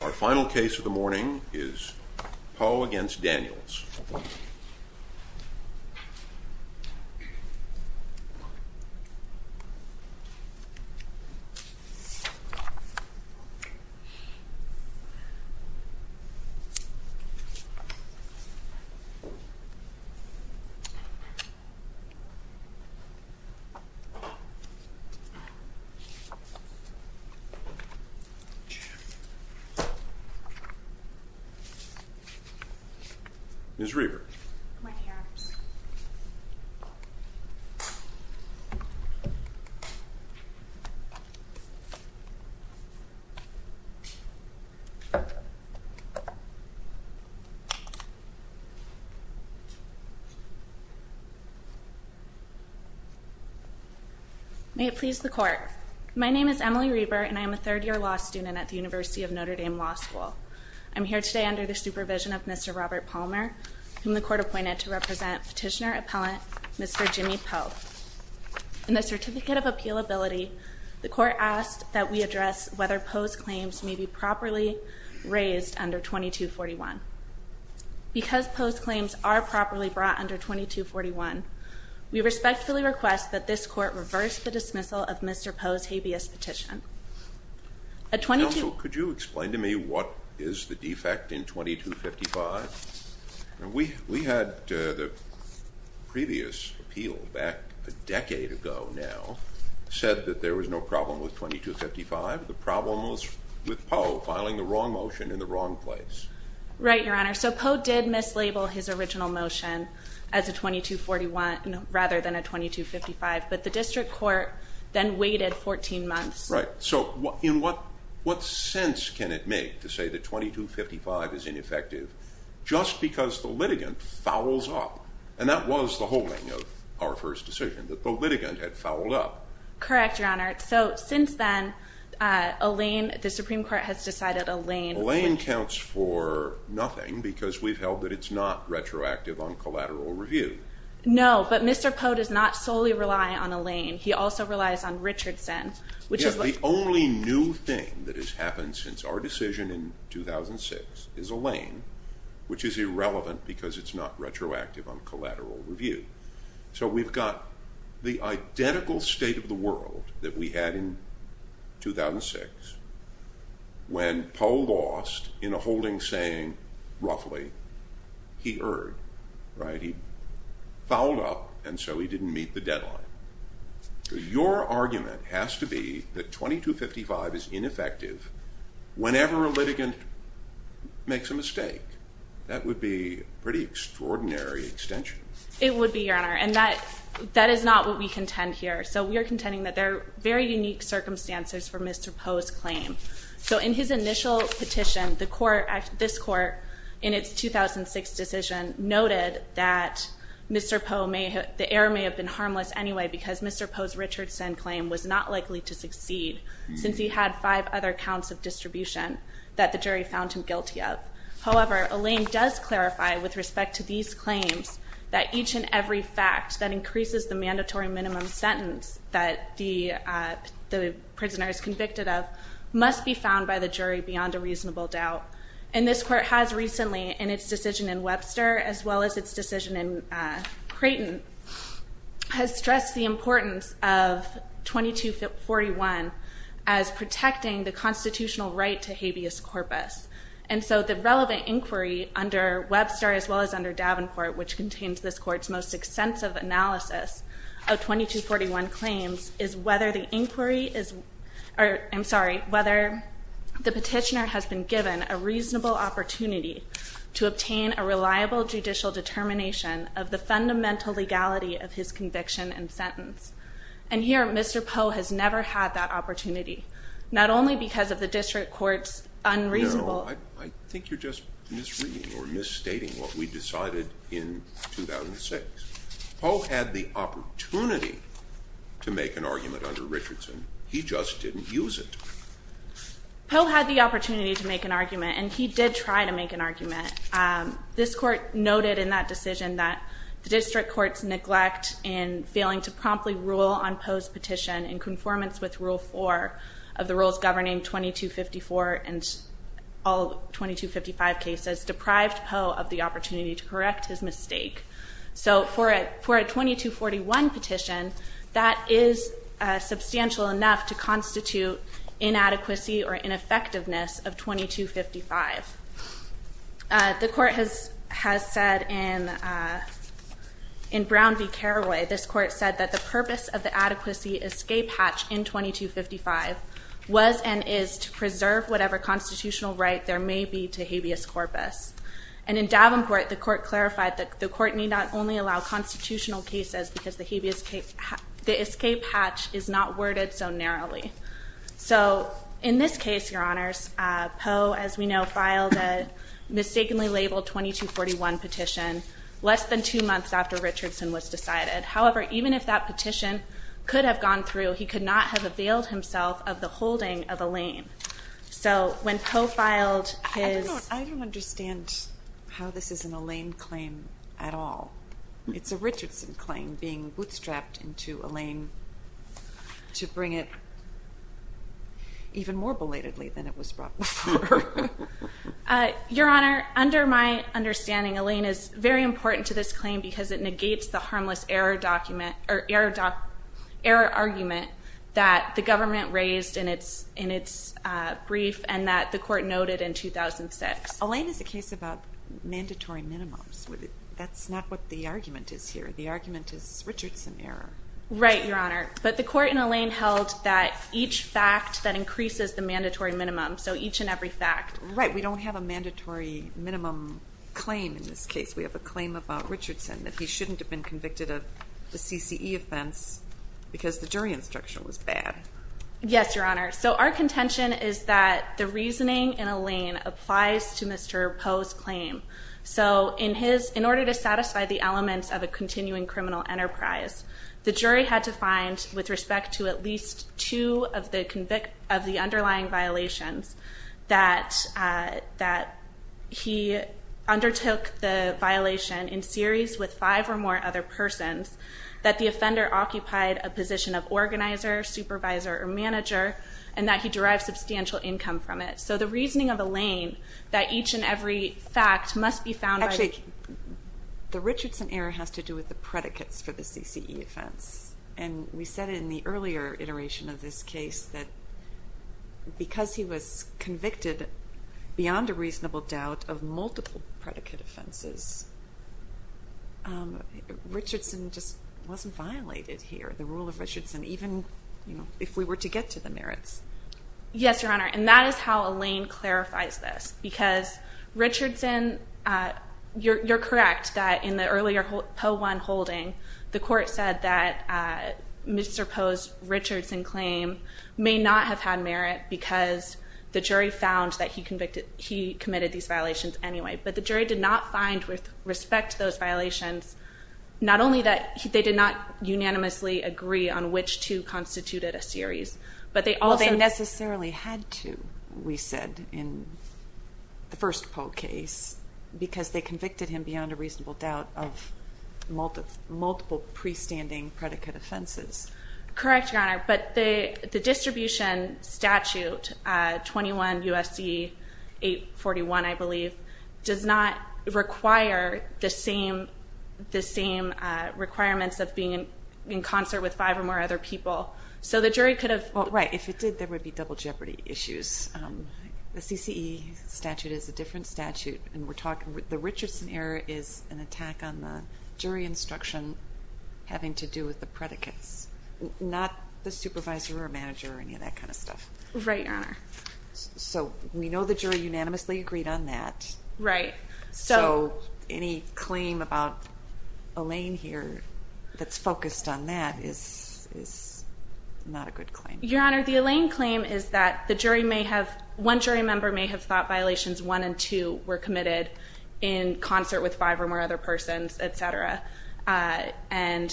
Our final case of the morning is Poe v. Daniels. Ms. Reber. May it please the Court. My name is Emily Reber and I am a third year law student at the University of Notre Dame Law School. I'm here today under the supervision of Mr. Robert Palmer, whom the Court appointed to represent petitioner appellant Mr. Jimmy Poe. In the Certificate of Appealability, the Court asked that we address whether Poe's claims may be properly raised under 2241. Because Poe's claims are properly brought under 2241, we respectfully request that this Court reverse the dismissal of Mr. Poe's claim. Counsel, could you explain to me what is the defect in 2255? We had the previous appeal back a decade ago now said that there was no problem with 2255. The problem was with Poe filing the wrong motion in the wrong place. Right, Your Honor. So Poe did mislabel his original motion as a 2241 rather than a 2255, but the District Court then waited 14 months. Right. So in what sense can it make to say that 2255 is ineffective just because the litigant fouls up? And that was the whole thing of our first decision, that the litigant had fouled up. Correct, Your Honor. So since then Alain, the Supreme Court has decided Alain... Alain counts for nothing because we've held that it's not retroactive on collateral review. No, but Mr. Poe does not solely rely on Alain. He also relies on Richardson. The only new thing that has happened since our decision in 2006 is Alain which is irrelevant because it's not retroactive on collateral review. So we've got the identical state of the world that we had in 2006 when Poe lost in a holding saying roughly he erred. He fouled up and so he didn't meet the deadline. Your argument has to be that 2255 is ineffective whenever a litigant makes a mistake. That would be a pretty extraordinary extension. It would be, Your Honor, and that is not what we contend here. So we are contending that there are very unique circumstances for Mr. Poe's claim. So in his initial petition, this court in its 2006 decision noted that the error may have been harmless anyway because Mr. Poe's Richardson claim was not likely to succeed since he had five other counts of distribution that the jury found him guilty of. However, Alain does clarify with respect to these claims that each and every fact that increases the mandatory minimum sentence that the prisoner is convicted of must be found by the jury beyond a reasonable doubt. And this court has recently in its decision in Webster as well as its decision in Creighton has stressed the importance of 2241 as protecting the constitutional right to habeas corpus. And so the relevant inquiry under Webster as well as under Davenport, which contains this court's most extensive analysis of 2241 claims, is whether the inquiry is, I'm sorry, whether the petitioner has been given a reasonable opportunity to obtain a reliable judicial determination of the fundamental legality of his conviction and sentence. And here, Mr. Poe has never had that opportunity, not only because of the district court's unreasonable... No, I think you're just misreading or misstating what we decided in 2006. Poe had the opportunity to make an argument under Richardson. He just didn't use it. Poe had the opportunity to make an argument. This court noted in that decision that the district courts neglect in failing to promptly rule on Poe's petition in conformance with Rule 4 of the rules governing 2254 and all 2255 cases deprived Poe of the opportunity to correct his mistake. So for a 2241 petition, that is substantial enough to constitute inadequacy or ineffectiveness of the court has said in Brown v. Carraway, this court said that the purpose of the adequacy escape hatch in 2255 was and is to preserve whatever constitutional right there may be to habeas corpus. And in Davenport, the court clarified that the court need not only allow constitutional cases because the escape hatch is not worded so narrowly. So in this case, Your Honors, Poe, as we know, filed a mistakenly labeled 2241 petition less than two months after Richardson was decided. However, even if that petition could have gone through, he could not have availed himself of the holding of Alain. So when Poe filed his... I don't understand how this is an Alain claim at all. It's a Richardson claim being bootstrapped into Alain to bring it even more belatedly than it was brought before. Your Honor, under my understanding, Alain is very important to this claim because it negates the harmless error argument that the government raised in its brief and that the court noted in 2006. Alain is a case about mandatory minimums. That's not what the argument is here. The argument is Richardson error. Right, Your Honor. But the court in Alain held that each fact that increases the mandatory minimum, so each and every fact. Right. We don't have a mandatory minimum claim in this case. We have a claim about Richardson that he shouldn't have been convicted of the CCE offense because the jury instruction was bad. Yes, Your Honor. So our contention is that the reasoning in Alain applies to Mr. Poe's claim. So in his... in order to satisfy the elements of a continuing criminal enterprise, the jury had to find, with respect to at least two of the underlying violations, that he undertook the violation in series with five or more other persons, that the offender occupied a position of organizer, supervisor, or manager, and that he derived substantial income from it. So the reasoning of Alain, that each and every fact must be found by... Actually, the Richardson error has to do with the and we said in the earlier iteration of this case that because he was convicted beyond a reasonable doubt of multiple predicate offenses, Richardson just wasn't violated here. The rule of Richardson even, you know, if we were to get to the merits. Yes, Your Honor. And that is how Alain clarifies this. Because Richardson you're correct that in the earlier Poe 1 holding the court said that Mr. Poe's Richardson claim may not have had merit because the jury found that he committed these violations anyway. But the jury did not find with respect to those violations, not only that they did not unanimously agree on which two constituted a series, but they also... Well, they necessarily had to, we said, in the first Poe case, because they convicted him beyond a reasonable doubt of multiple pre-standing predicate offenses. Correct, Your Honor, but the distribution statute 21 U.S.C. 841, I believe does not require the same requirements of being in concert with five or more other people. So the jury could have... Well, right. If it did, there would be double jeopardy issues. The CCE statute is a different statute, and we're talking the Richardson error is an attack on the jury instruction having to do with the predicates, not the supervisor or manager or any of that kind of stuff. Right, Your Honor. So we know the jury unanimously agreed on that. Right. So any claim about Alain here that's focused on that is not a good claim. Your Honor, the Alain claim is that one jury member may have thought that violations one and two were committed in concert with five or more other persons, etc. And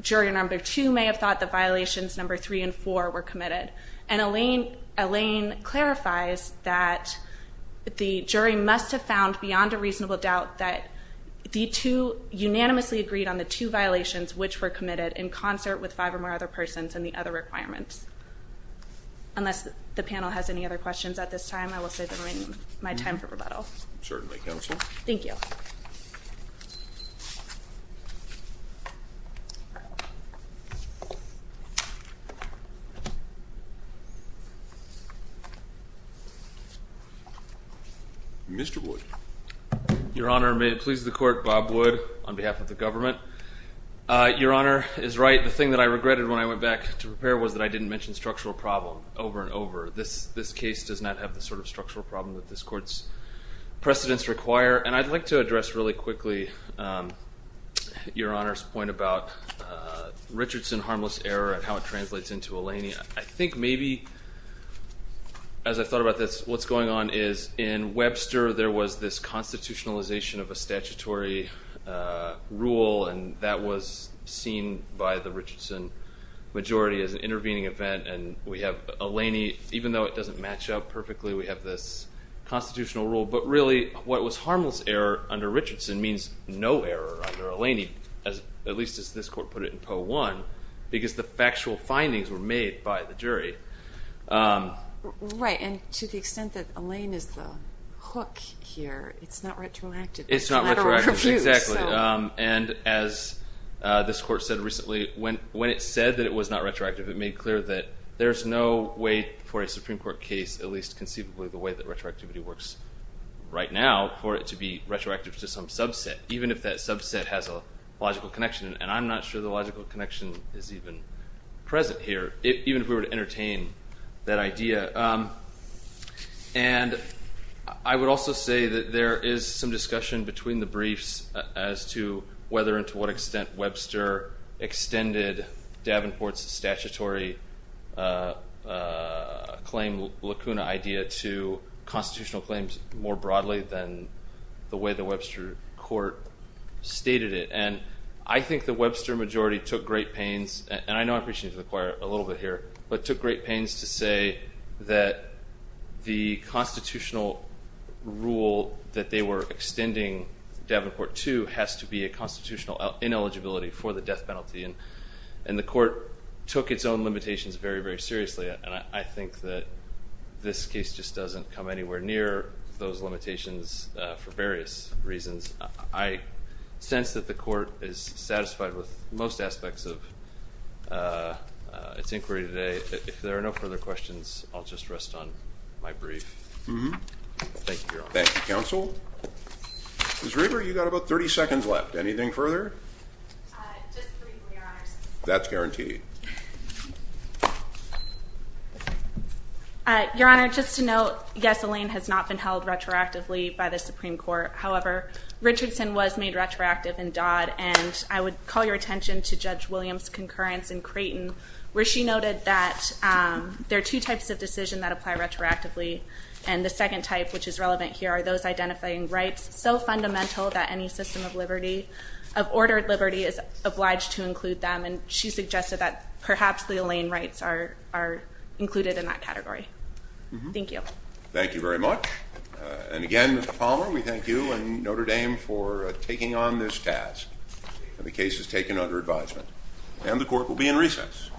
jury number two may have thought that violations number three and four were committed. And Alain clarifies that the jury must have found beyond a reasonable doubt that the two unanimously agreed on the two violations which were committed in concert with five or more other persons and the other requirements. Unless the panel has any other questions at this time, I will save my time for rebuttal. Certainly, Counsel. Thank you. Mr. Wood. Your Honor, may it please the Court, Bob Wood on behalf of the government. Your Honor is right. The thing that I regretted when I went back to prepare was that I didn't mention structural problem over and over. This case does not have the sort of structural problem that this Court's precedents require. And I'd like to address really quickly Your Honor's point about Richardson harmless error and how it translates into Alain. I think maybe as I thought about this, what's going on is in Webster there was this constitutionalization of a statutory rule and that was seen by the Richardson majority as an intervening event. And we have Alain, even though it doesn't match up perfectly, we have this constitutional rule. But really what was harmless error under Richardson means no error under Alain. At least as this Court put it in Poe 1, because the factual findings were made by the jury. Right. And to the extent that Alain is the hook here, it's not retroactive. It's not retroactive, exactly. And as this Court said recently, when it said that it was not retroactive, it made clear that there's no way for a Supreme Court case, at least conceivably the way that retroactivity works right now, for it to be retroactive to some subset, even if that subset has a logical connection. And I'm not sure the logical connection is even present here, even if we were to entertain that idea. And I would also say that there is some discussion between the briefs as to whether and to what extent Webster extended Davenport's statutory claim lacuna idea to constitutional claims more broadly than the way the Webster Court stated it. And I think the Webster majority took great pains, and I know I'm preaching to the choir a little bit here, but took great pains to say that the constitutional rule that they were to do has to be a constitutional ineligibility for the death penalty. And the Court took its own limitations very, very seriously, and I think that this case just doesn't come anywhere near those limitations for various reasons. I sense that the Court is satisfied with most aspects of its inquiry today. If there are no further questions, I'll just rest on my brief. Thank you, Your Honor. Thank you, Counsel. Ms. Reber, you've got about 30 seconds left. Anything further? Just briefly, Your Honor. That's guaranteed. Your Honor, just to note, yes, Elaine has not been held retroactively by the Supreme Court. However, Richardson was made retroactive in Dodd, and I would call your attention to Judge Williams' concurrence in Creighton, where she noted that there are two types of decision that apply retroactively, and the second type, which is relevant here, are those identifying rights so fundamental that any system of liberty, of ordered liberty, is obliged to include them. And she suggested that perhaps the Elaine rights are included in that category. Thank you. Thank you very much. And again, Mr. Palmer, we thank you and Notre Dame for taking on this task for the cases taken under advisement. And the Court will be in recess. Thank you.